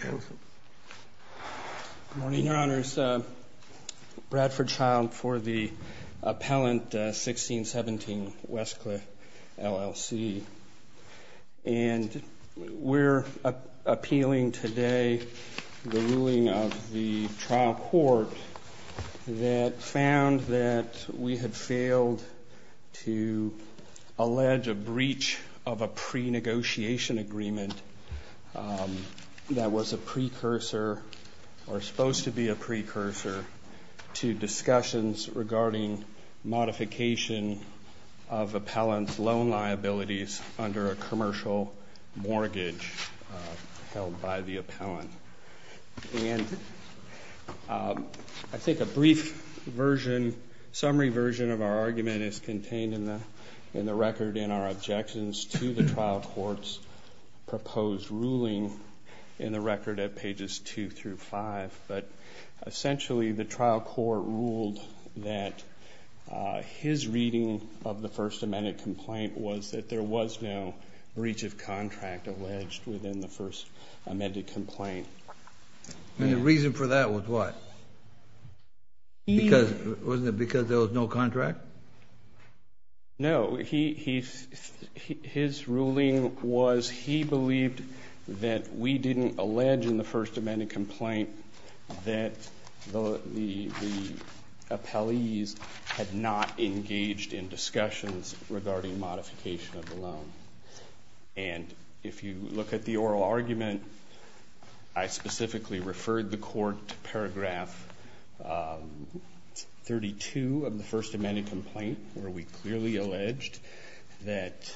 Good morning, Your Honors. Bradford Child for the appellant 1617 Westcliff LLC. And we're appealing today the ruling of the trial court that found that we had failed to allege a breach of a pre-negotiation agreement that was a precursor or supposed to be a precursor to discussions regarding modification of appellant's loan liabilities under a commercial mortgage held by the appellant. And I think a brief summary version of our argument is contained in the record in our objections to the trial court's proposed ruling in the record at pages 2 through 5. But essentially the trial court ruled that his reading of the First Amendment complaint was that there was no breach of contract alleged within the First Amendment complaint. And the reason for that was what? Because there was no contract? No. His ruling was he believed that we didn't allege in the First Amendment complaint that the appellees had not engaged in discussions regarding modification of the loan. And if you look at the oral argument, I specifically referred the court to paragraph 32 of the First Amendment complaint where we clearly alleged that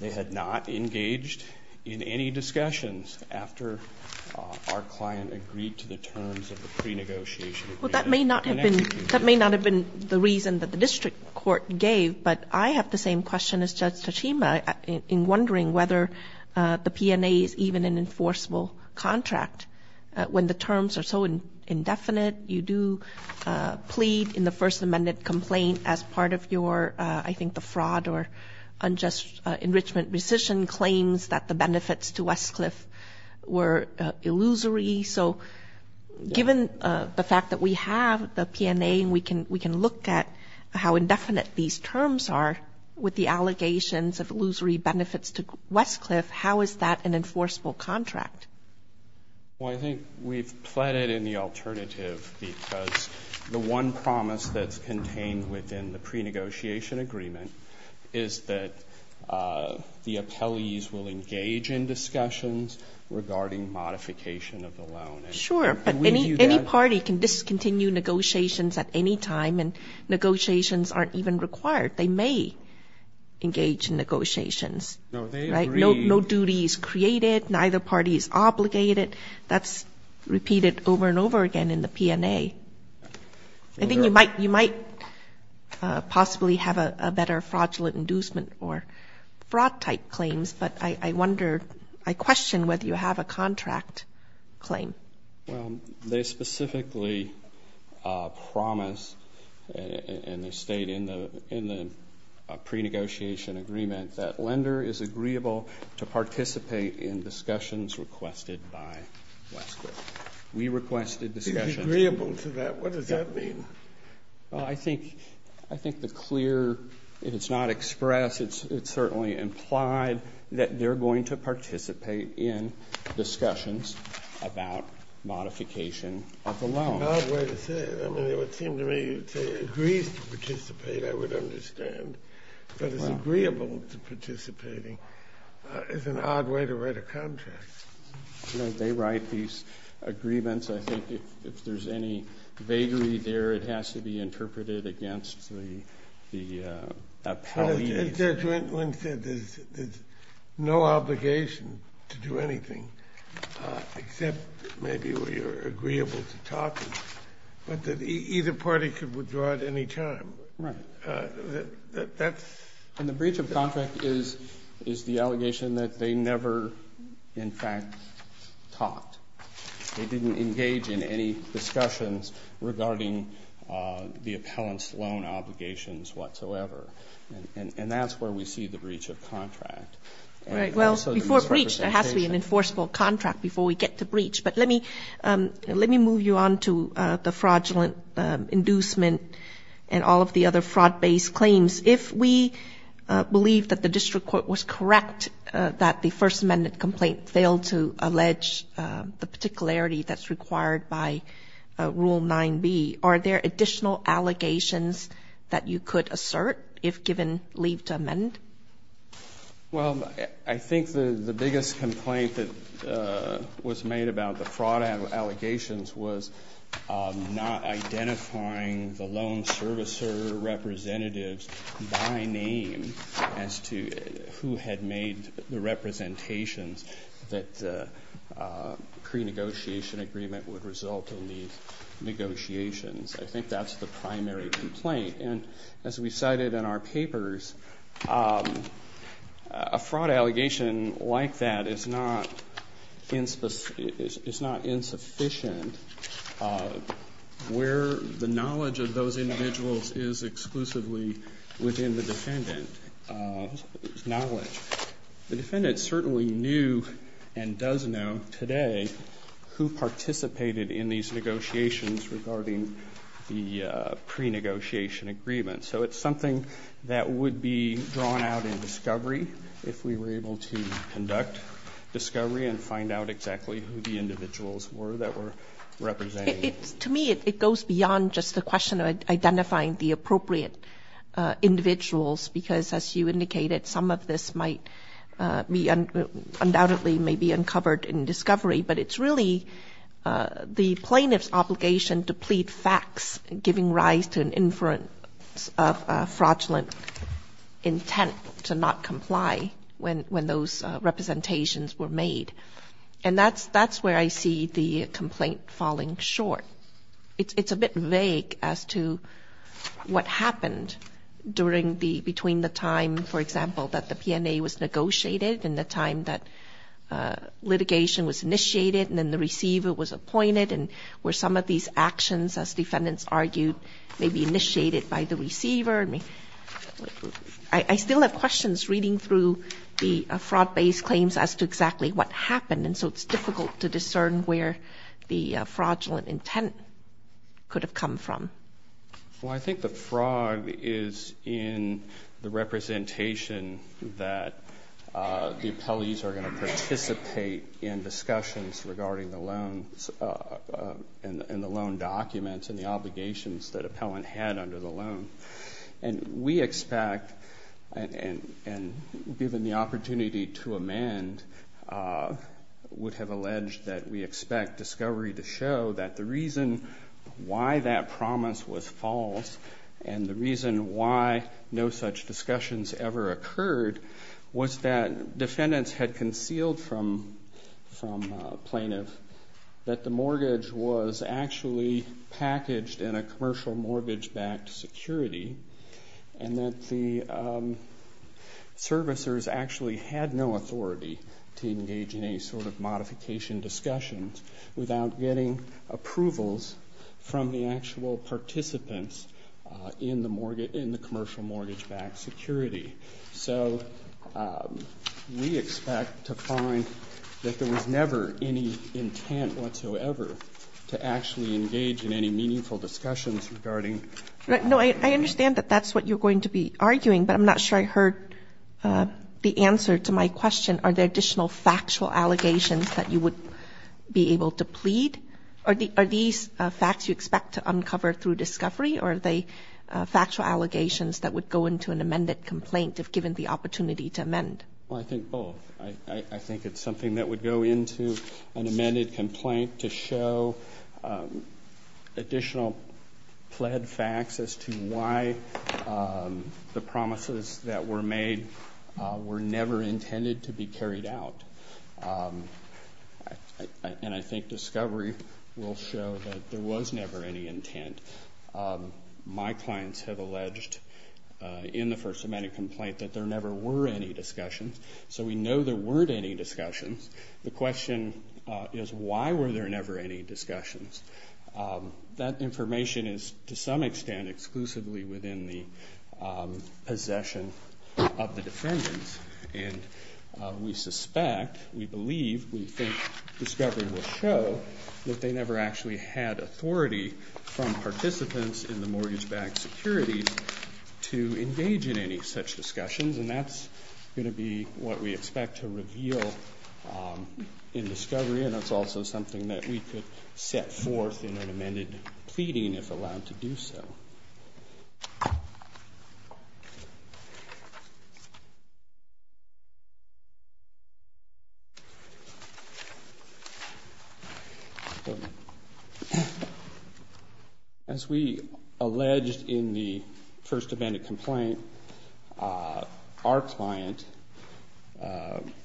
they had not engaged in any discussions after our client agreed to the terms of the pre-negotiation agreement. That may not have been the reason that the district court gave, but I have the same question as Judge Tachima in wondering whether the P&A is even an enforceable contract. When the terms are so indefinite, you do plead in the First Amendment complaint as part of your, I think, the fraud or unjust enrichment rescission claims that the benefits to Westcliff were illusory. So given the fact that we have the P&A and we can look at how indefinite these terms are with the allegations of illusory benefits to Westcliff, how is that an enforceable contract? Well, I think we've pleaded in the alternative because the one promise that's contained within the pre-negotiation agreement is that the appellees will engage in discussions regarding modification of the loan. Sure, but any party can discontinue negotiations at any time and negotiations aren't even required. They may engage in negotiations. No, they agree. Neither party is created, neither party is obligated. That's repeated over and over again in the P&A. I think you might possibly have a better fraudulent inducement or fraud type claims, but I wonder, I question whether you have a contract claim. Well, they specifically promise and they state in the pre-negotiation agreement that lender is agreeable to participate in discussions requested by Westcliff. We requested discussions. Agreeable to that? What does that mean? Well, I think the clear, if it's not expressed, it's certainly implied that they're going to participate in discussions about modification of the loan. It's an odd way to say it. I mean, it would seem to me they agree to participate, I would understand, but it's agreeable to participating. It's an odd way to write a contract. They write these agreements. I think if there's any vaguery there, it has to be interpreted against the appellees. Judge Wendland said there's no obligation to do anything except maybe we are agreeable to talking, but that either party could withdraw at any time. Right. And the breach of contract is the allegation that they never, in fact, talked. They didn't engage in any discussions regarding the appellant's loan obligations whatsoever. And that's where we see the breach of contract. Right. Well, before breach, there has to be an enforceable contract before we get to breach. But let me move you on to the fraudulent inducement and all of the other fraud-based claims. If we believe that the district court was correct that the First Amendment complaint failed to allege the particularity that's required by Rule 9b, are there additional allegations that you could assert if given leave to amend? Well, I think the biggest complaint that was made about the fraud allegations was not identifying the loan servicer representatives by name as to who had made the representations that pre-negotiation agreement would result in these negotiations. I think that's the primary complaint. And as we cited in our papers, a fraud allegation like that is not insufficient where the knowledge of those individuals is exclusively within the defendant's knowledge. The defendant certainly knew and does know today who participated in these negotiations regarding the pre-negotiation agreement. So it's something that would be drawn out in discovery if we were able to conduct discovery and find out exactly who the individuals were that were represented. To me, it goes beyond just the question of identifying the appropriate individuals because, as you indicated, some of this might be undoubtedly may be uncovered in discovery. But it's really the plaintiff's obligation to plead facts, giving rise to an inference of fraudulent intent to not comply when those representations were made. And that's where I see the complaint falling short. It's a bit vague as to what happened between the time, for example, that the P&A was negotiated and the time that litigation was initiated and then the receiver was appointed and where some of these actions, as defendants argued, may be initiated by the receiver. Pardon me. I still have questions reading through the fraud-based claims as to exactly what happened. And so it's difficult to discern where the fraudulent intent could have come from. Well, I think the fraud is in the representation that the appellees are going to participate in discussions regarding the loans and the loan documents and the obligations that appellant had under the loan. And we expect, and given the opportunity to amend, would have alleged that we expect discovery to show that the reason why that promise was false and the reason why no such discussions ever occurred was that defendants had concealed from plaintiff that the mortgage was actually packaged in a commercial mortgage-backed security and that the servicers actually had no authority to engage in any sort of modification discussions without getting approvals from the actual participants in the commercial mortgage-backed security. So we expect to find that there was never any intent whatsoever to actually engage in any meaningful discussions regarding... No, I understand that that's what you're going to be arguing, but I'm not sure I heard the answer to my question. Are there additional factual allegations that you would be able to plead? Are these facts you expect to uncover through discovery or are they factual allegations that would go into an amended complaint if given the opportunity to amend? Well, I think both. I think it's something that would go into an amended complaint to show additional pled facts as to why the promises that were made were never intended to be carried out. And I think discovery will show that there was never any intent. My clients have alleged in the First Amendment complaint that there never were any discussions. So we know there weren't any discussions. The question is why were there never any discussions? That information is, to some extent, exclusively within the possession of the defendants. And we suspect, we believe, we think discovery will show that they never actually had authority from participants in the mortgage-backed securities to engage in any such discussions. And that's going to be what we expect to reveal in discovery, and it's also something that we could set forth in an amended pleading if allowed to do so. As we alleged in the First Amendment complaint, our client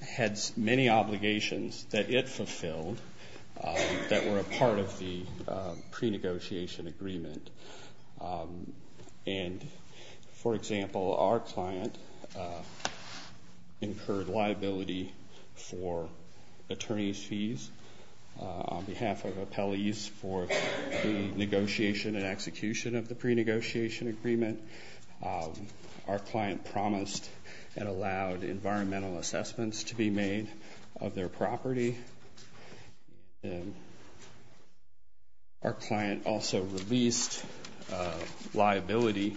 had many obligations that it fulfilled that were a part of the pre-negotiation agreement. And, for example, our client incurred liability for attorney's fees on behalf of appellees for the negotiation and execution of the pre-negotiation agreement. Our client promised and allowed environmental assessments to be made of their property. And our client also released liability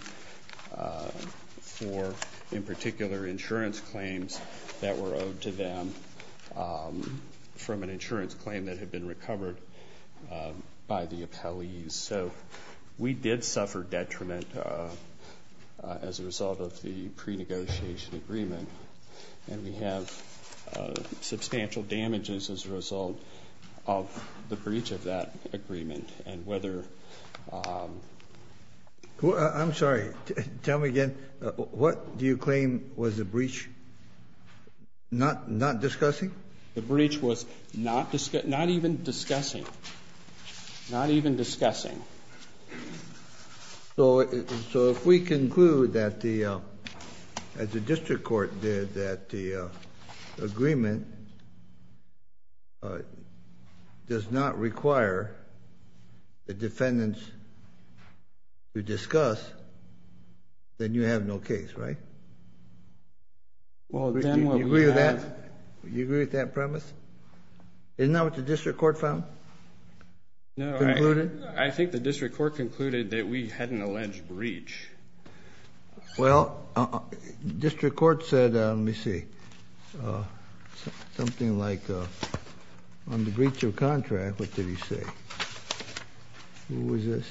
for, in particular, insurance claims that were owed to them from an insurance claim that had been recovered by the appellees. So we did suffer detriment as a result of the pre-negotiation agreement. And we have substantial damages as a result of the breach of that agreement. And whether... I'm sorry. Tell me again. What do you claim was the breach not discussing? The breach was not even discussing. Not even discussing. So if we conclude that the District Court did that the agreement does not require the defendants to discuss, then you have no case, right? Well, then what we have... Do you agree with that? Do you agree with that premise? Isn't that what the District Court found? No. Concluded? I think the District Court concluded that we had an alleged breach. Well, District Court said, let me see, something like, on the breach of contract, what did he say? Who was this?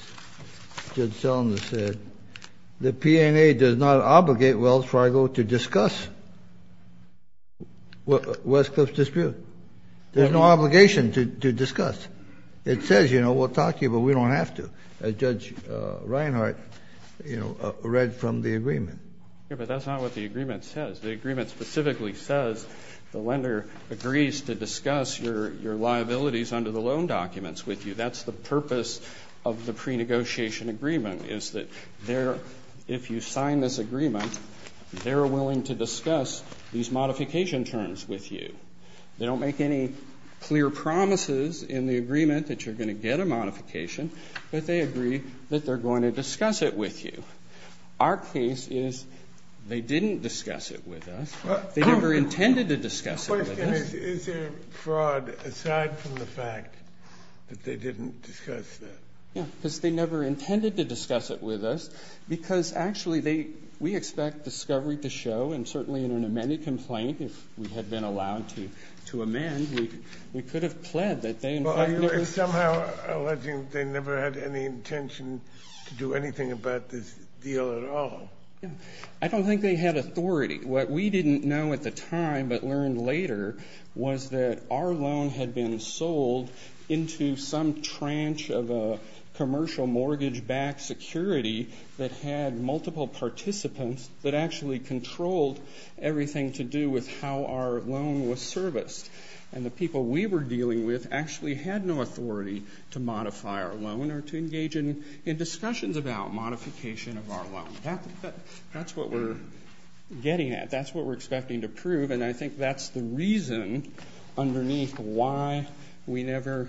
Judge Selma said, the P&A does not obligate Wells Fargo to discuss Westcliff's dispute. There's no obligation to discuss. It says, you know, we'll talk to you, but we don't have to. As Judge Reinhart, you know, read from the agreement. Yeah, but that's not what the agreement says. The agreement specifically says the lender agrees to discuss your liabilities under the loan documents with you. That's the purpose of the pre-negotiation agreement, is that if you sign this agreement, they're willing to discuss these modification terms with you. They don't make any clear promises in the agreement that you're going to get a modification, but they agree that they're going to discuss it with you. Our case is they didn't discuss it with us. They never intended to discuss it with us. The question is, is there fraud aside from the fact that they didn't discuss it? Yeah, because they never intended to discuss it with us, because actually they – we expect discovery to show, and certainly in an amended complaint, if we had been allowed to amend, we could have pled that they intended to discuss it. Well, are you somehow alleging they never had any intention to do anything about this deal at all? I don't think they had authority. What we didn't know at the time but learned later was that our loan had been sold into some tranche of a commercial mortgage-backed security that had multiple participants that actually controlled everything to do with how our loan was serviced. And the people we were dealing with actually had no authority to modify our loan or to engage in discussions about modification of our loan. That's what we're getting at. That's what we're expecting to prove, and I think that's the reason underneath why we never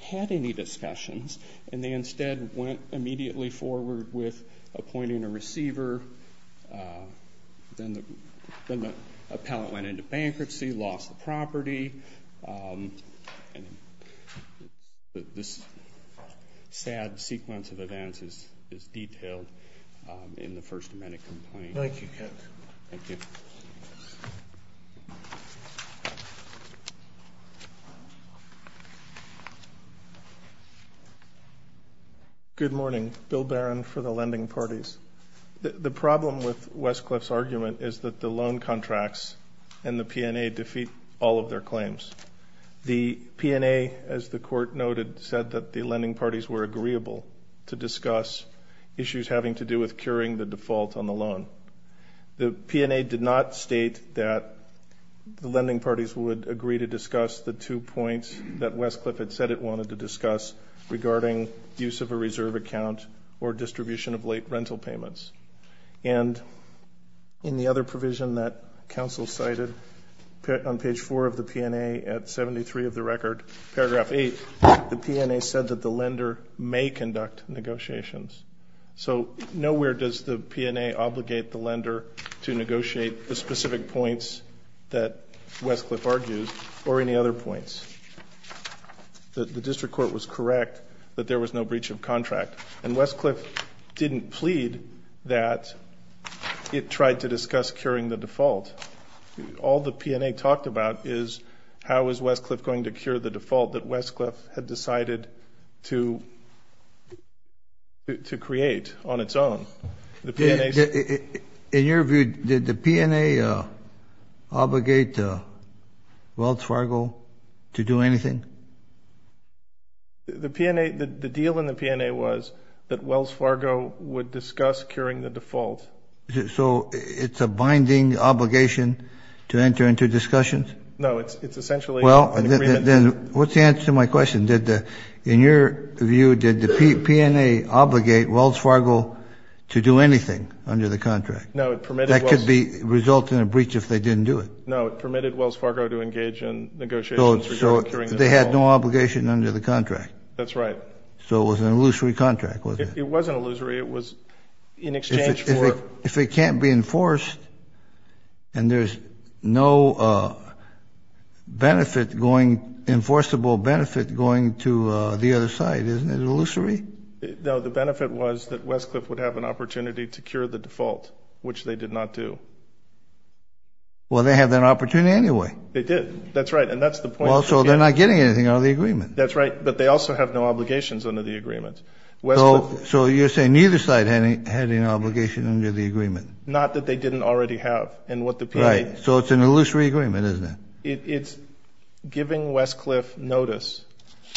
had any discussions. And they instead went immediately forward with appointing a receiver. Then the appellant went into bankruptcy, lost the property, and this sad sequence of events is detailed in the First Amendment complaint. Thank you, Kent. Thank you. Thank you. Good morning. Bill Barron for the lending parties. The problem with Westcliffe's argument is that the loan contracts and the P&A defeat all of their claims. The P&A, as the Court noted, said that the lending parties were agreeable to discuss issues having to do with curing the default on the loan. The P&A did not state that the lending parties would agree to discuss the two points that Westcliffe had said it wanted to discuss regarding use of a reserve account or distribution of late rental payments. And in the other provision that counsel cited on page 4 of the P&A at 73 of the record, paragraph 8, the P&A said that the lender may conduct negotiations. So nowhere does the P&A obligate the lender to negotiate the specific points that Westcliffe argues or any other points. The district court was correct that there was no breach of contract. And Westcliffe didn't plead that it tried to discuss curing the default. All the P&A talked about is how is Westcliffe going to cure the default that Westcliffe had decided to create on its own. In your view, did the P&A obligate Wells Fargo to do anything? The P&A, the deal in the P&A was that Wells Fargo would discuss curing the default. So it's a binding obligation to enter into discussions? No, it's essentially an agreement. Well, then what's the answer to my question? In your view, did the P&A obligate Wells Fargo to do anything under the contract? No, it permitted Wells Fargo. That could result in a breach if they didn't do it. No, it permitted Wells Fargo to engage in negotiations regarding curing the default. So they had no obligation under the contract. That's right. So it was an illusory contract, wasn't it? It wasn't illusory. If it can't be enforced and there's no enforceable benefit going to the other side, isn't it illusory? No, the benefit was that Westcliffe would have an opportunity to cure the default, which they did not do. Well, they have that opportunity anyway. They did. That's right. And that's the point. Well, so they're not getting anything out of the agreement. That's right. But they also have no obligations under the agreement. So you're saying neither side had an obligation under the agreement? Not that they didn't already have. Right. So it's an illusory agreement, isn't it? It's giving Westcliffe notice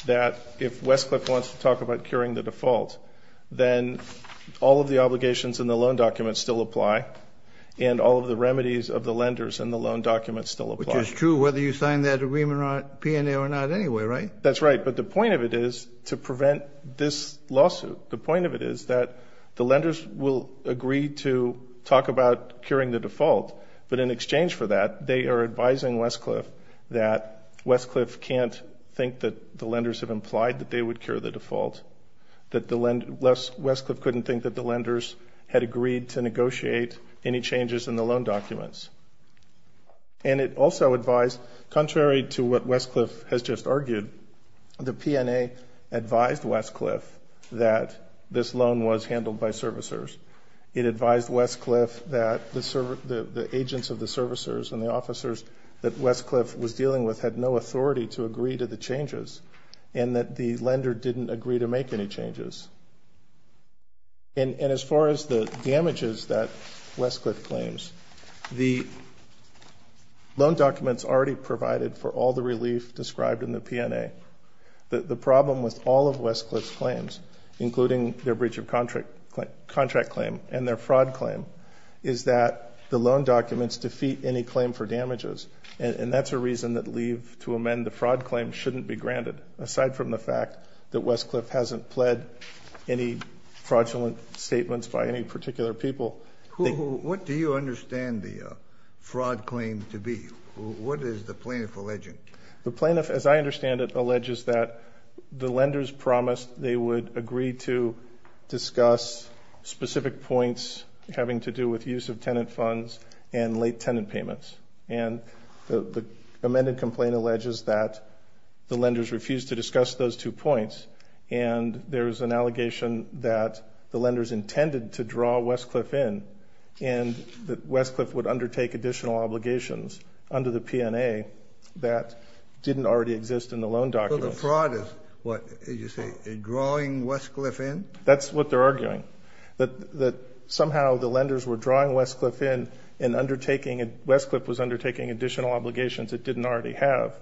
that if Westcliffe wants to talk about curing the default, then all of the obligations in the loan document still apply, and all of the remedies of the lenders in the loan document still apply. Which is true whether you sign that agreement P&A or not anyway, right? That's right. But the point of it is to prevent this lawsuit. The point of it is that the lenders will agree to talk about curing the default, but in exchange for that they are advising Westcliffe that Westcliffe can't think that the lenders have implied that they would cure the default, that Westcliffe couldn't think that the lenders had agreed to negotiate any changes in the loan documents. And it also advised, contrary to what Westcliffe has just argued, the P&A advised Westcliffe that this loan was handled by servicers. It advised Westcliffe that the agents of the servicers and the officers that Westcliffe was dealing with had no authority to agree to the changes and that the lender didn't agree to make any changes. And as far as the damages that Westcliffe claims, the loan documents already provided for all the relief described in the P&A. The problem with all of Westcliffe's claims, including their breach of contract claim and their fraud claim, is that the loan documents defeat any claim for damages. And that's a reason that leave to amend the fraud claim shouldn't be granted, aside from the fact that Westcliffe hasn't pled any fraudulent statements by any particular people. What do you understand the fraud claim to be? What is the plaintiff alleging? The plaintiff, as I understand it, alleges that the lenders promised they would agree to discuss specific points having to do with use of tenant funds and late tenant payments. And the amended complaint alleges that the lenders refused to discuss those two points. And there's an allegation that the lenders intended to draw Westcliffe in and that Westcliffe would undertake additional obligations under the P&A that didn't already exist in the loan documents. So the fraud is, what, as you say, drawing Westcliffe in? That's what they're arguing, that somehow the lenders were drawing Westcliffe in and undertaking, Westcliffe was undertaking additional obligations it didn't already have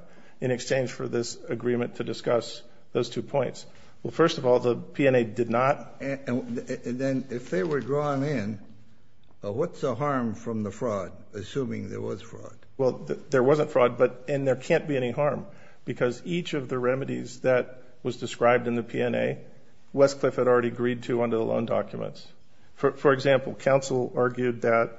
in exchange for this agreement to discuss those two points. Well, first of all, the P&A did not. And then if they were drawn in, what's the harm from the fraud, assuming there was fraud? Well, there wasn't fraud, and there can't be any harm, because each of the remedies that was described in the P&A, Westcliffe had already agreed to under the loan documents. For example, counsel argued that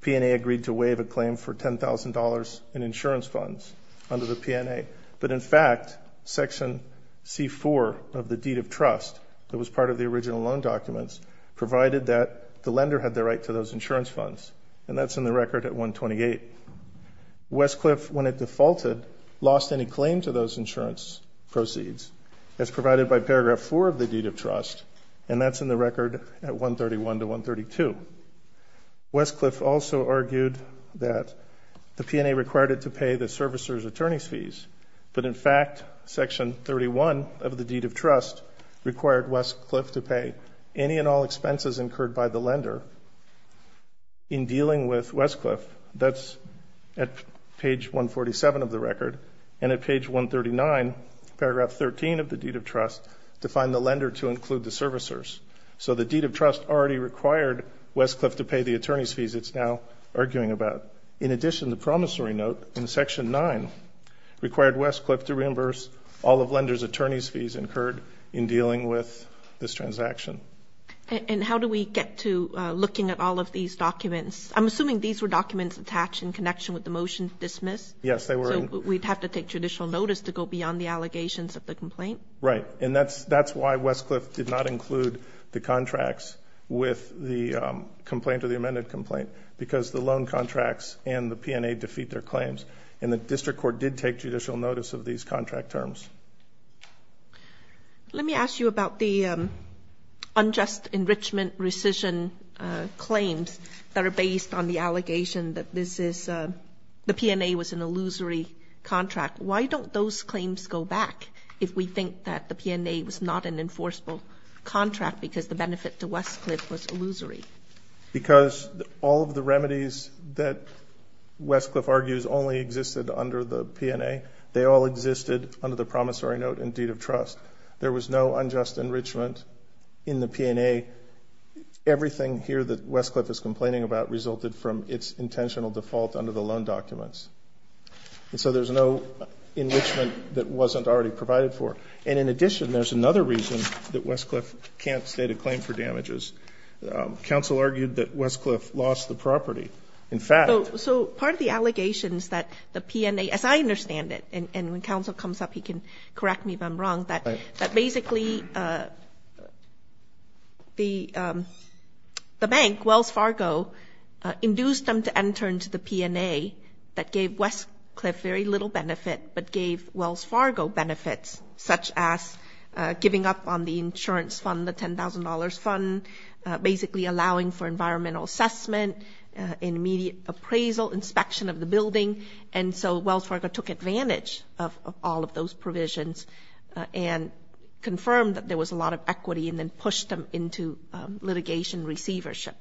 P&A agreed to waive a claim for $10,000 in insurance funds under the P&A. But, in fact, Section C-4 of the deed of trust that was part of the original loan documents provided that the lender had the right to those insurance funds, and that's in the record at 128. Westcliffe, when it defaulted, lost any claim to those insurance proceeds. That's provided by Paragraph 4 of the deed of trust, and that's in the record at 131 to 132. Westcliffe also argued that the P&A required it to pay the servicer's attorney's fees, but, in fact, Section 31 of the deed of trust required Westcliffe to pay any and all expenses incurred by the lender. In dealing with Westcliffe, that's at page 147 of the record, and at page 139, Paragraph 13 of the deed of trust, to find the lender to include the servicers. So the deed of trust already required Westcliffe to pay the attorney's fees it's now arguing about. In addition, the promissory note in Section 9 required Westcliffe to reimburse all of lender's attorney's fees incurred in dealing with this transaction. And how do we get to looking at all of these documents? I'm assuming these were documents attached in connection with the motion to dismiss. Yes, they were. So we'd have to take judicial notice to go beyond the allegations of the complaint? Right, and that's why Westcliffe did not include the contracts with the complaint or the amended complaint, because the loan contracts and the P&A defeat their claims, and the district court did take judicial notice of these contract terms. Let me ask you about the unjust enrichment rescission claims that are based on the allegation that this is the P&A was an illusory contract. Why don't those claims go back if we think that the P&A was not an enforceable contract because the benefit to Westcliffe was illusory? Because all of the remedies that Westcliffe argues only existed under the P&A, they all existed under the promissory note and deed of trust. There was no unjust enrichment in the P&A. Everything here that Westcliffe is complaining about resulted from its intentional default under the loan documents. And so there's no enrichment that wasn't already provided for. And in addition, there's another reason that Westcliffe can't state a claim for damages. Counsel argued that Westcliffe lost the property. In fact – So part of the allegations that the P&A, as I understand it, and when counsel comes up he can correct me if I'm wrong, that basically the bank, Wells Fargo, induced them to enter into the P&A that gave Westcliffe very little benefit but gave Wells Fargo benefits such as giving up on the insurance fund, the $10,000 fund, basically allowing for environmental assessment, immediate appraisal, inspection of the building. And so Wells Fargo took advantage of all of those provisions and confirmed that there was a lot of equity and then pushed them into litigation receivership.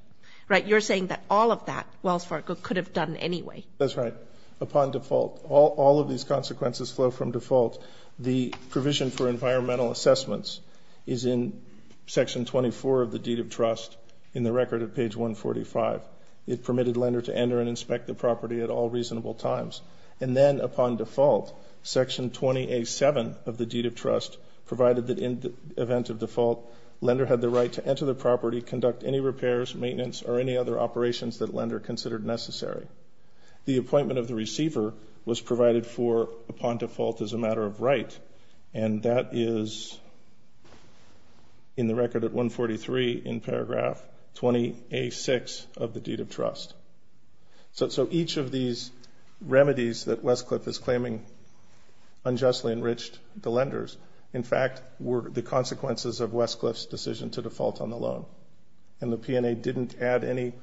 Right? You're saying that all of that Wells Fargo could have done anyway. That's right. Upon default. All of these consequences flow from default. The provision for environmental assessments is in Section 24 of the deed of trust in the record at page 145. It permitted lender to enter and inspect the property at all reasonable times. And then upon default, Section 20A.7 of the deed of trust provided that in the event of default, lender had the right to enter the property, conduct any repairs, maintenance, or any other operations that lender considered necessary. The appointment of the receiver was provided for upon default as a matter of right, and that is in the record at 143 in paragraph 20A.6 of the deed of trust. So each of these remedies that Westcliff is claiming unjustly enriched the lenders, in fact, were the consequences of Westcliff's decision to default on the loan. And the P&A didn't add any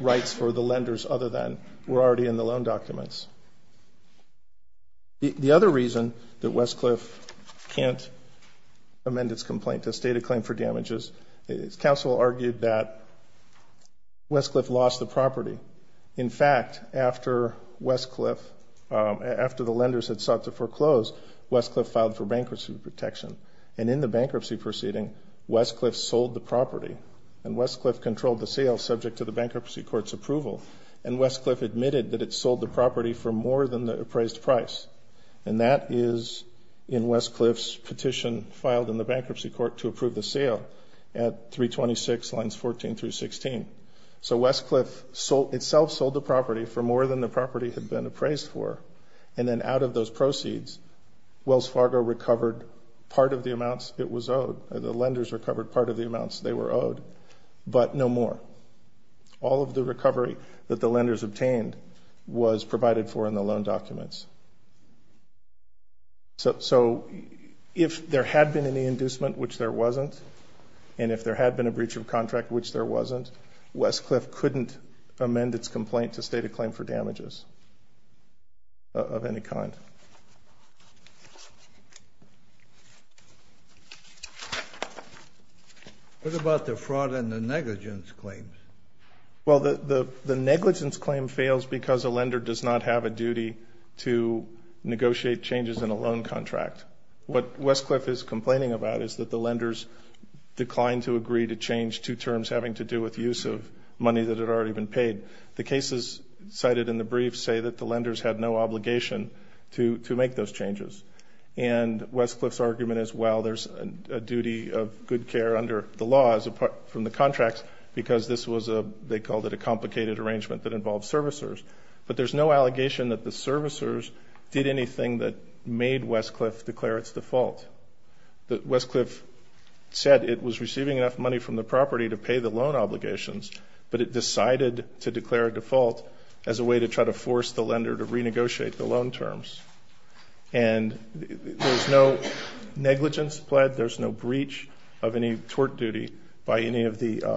rights for the lenders other than were already in the loan documents. The other reason that Westcliff can't amend its complaint to state a claim for damages, is counsel argued that Westcliff lost the property. In fact, after Westcliff, after the lenders had sought to foreclose, Westcliff filed for bankruptcy protection. And in the bankruptcy proceeding, Westcliff sold the property, and Westcliff controlled the sale subject to the bankruptcy court's approval. And Westcliff admitted that it sold the property for more than the appraised price. And that is in Westcliff's petition filed in the bankruptcy court to approve the sale at 326 lines 14 through 16. So Westcliff itself sold the property for more than the property had been appraised for. And then out of those proceeds, Wells Fargo recovered part of the amounts it was owed. The lenders recovered part of the amounts they were owed, but no more. All of the recovery that the lenders obtained was provided for in the loan documents. So if there had been any inducement, which there wasn't, and if there had been a breach of contract, which there wasn't, Westcliff couldn't amend its complaint to state a claim for damages of any kind. What about the fraud and the negligence claims? Well, the negligence claim fails because a lender does not have a duty to negotiate changes in a loan contract. What Westcliff is complaining about is that the lenders declined to agree to change two terms having to do with use of money that had already been paid. The cases cited in the brief say that the lenders had no obligation to make those changes. And Westcliff's argument is, well, there's a duty of good care under the law from the contracts because this was a, they called it a complicated arrangement that involved servicers. But there's no allegation that the servicers did anything that made Westcliff declare its default. Westcliff said it was receiving enough money from the property to pay the loan obligations, but it decided to declare a default as a way to try to force the lender to renegotiate the loan terms. And there's no negligence pled, there's no breach of any tort duty by any of the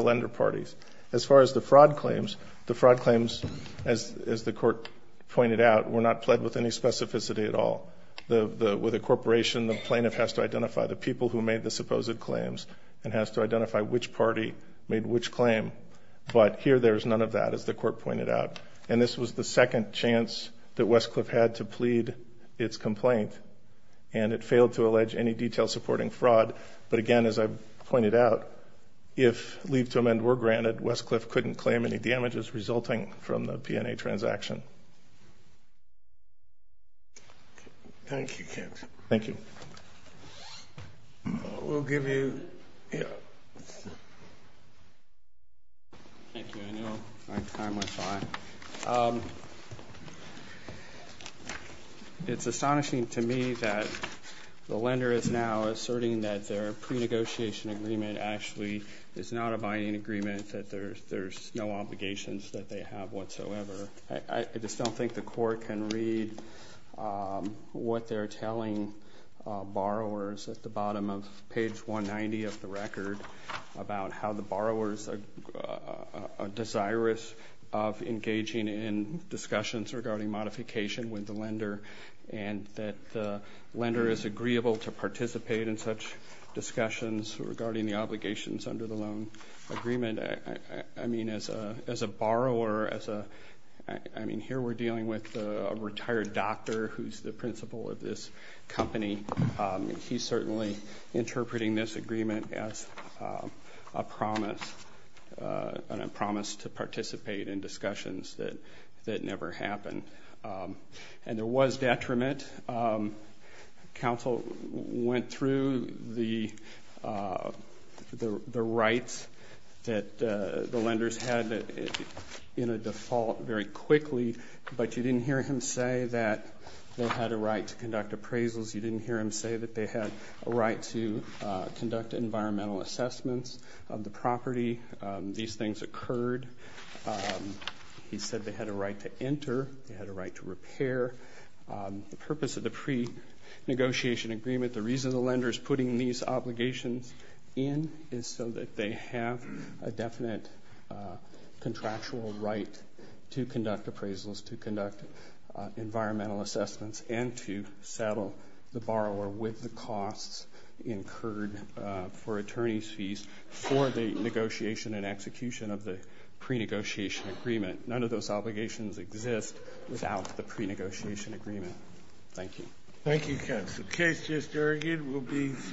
lender parties. As far as the fraud claims, the fraud claims, as the Court pointed out, were not pled with any specificity at all. With a corporation, the plaintiff has to identify the people who made the supposed claims and has to identify which party made which claim. But here there's none of that, as the Court pointed out. And this was the second chance that Westcliff had to plead its complaint. And it failed to allege any detail supporting fraud. But again, as I pointed out, if leave to amend were granted, Westcliff couldn't claim any damages resulting from the P&A transaction. Thank you, Kent. Thank you. We'll give you, yeah. Thank you. I know my time went by. Thank you. It's astonishing to me that the lender is now asserting that their pre-negotiation agreement actually is not a binding agreement, that there's no obligations that they have whatsoever. I just don't think the Court can read what they're telling borrowers at the bottom of page 190 of the record about how the borrowers are desirous of engaging in discussions regarding modification with the lender and that the lender is agreeable to participate in such discussions regarding the obligations under the loan agreement. I mean, as a borrower, as a, I mean, here we're dealing with a retired doctor who's the principal of this company. He's certainly interpreting this agreement as a promise to participate in discussions that never happen. And there was detriment. Counsel went through the rights that the lenders had in a default very quickly, but you didn't hear him say that they had a right to conduct appraisals. You didn't hear him say that they had a right to conduct environmental assessments of the property. These things occurred. He said they had a right to enter. They had a right to repair. The purpose of the pre-negotiation agreement, the reason the lender's putting these obligations in is so that they have a definite contractual right to conduct appraisals, to conduct environmental assessments, and to settle the borrower with the costs incurred for attorney's fees for the negotiation and execution of the pre-negotiation agreement. None of those obligations exist without the pre-negotiation agreement. Thank you. Thank you, counsel. The case just argued will be...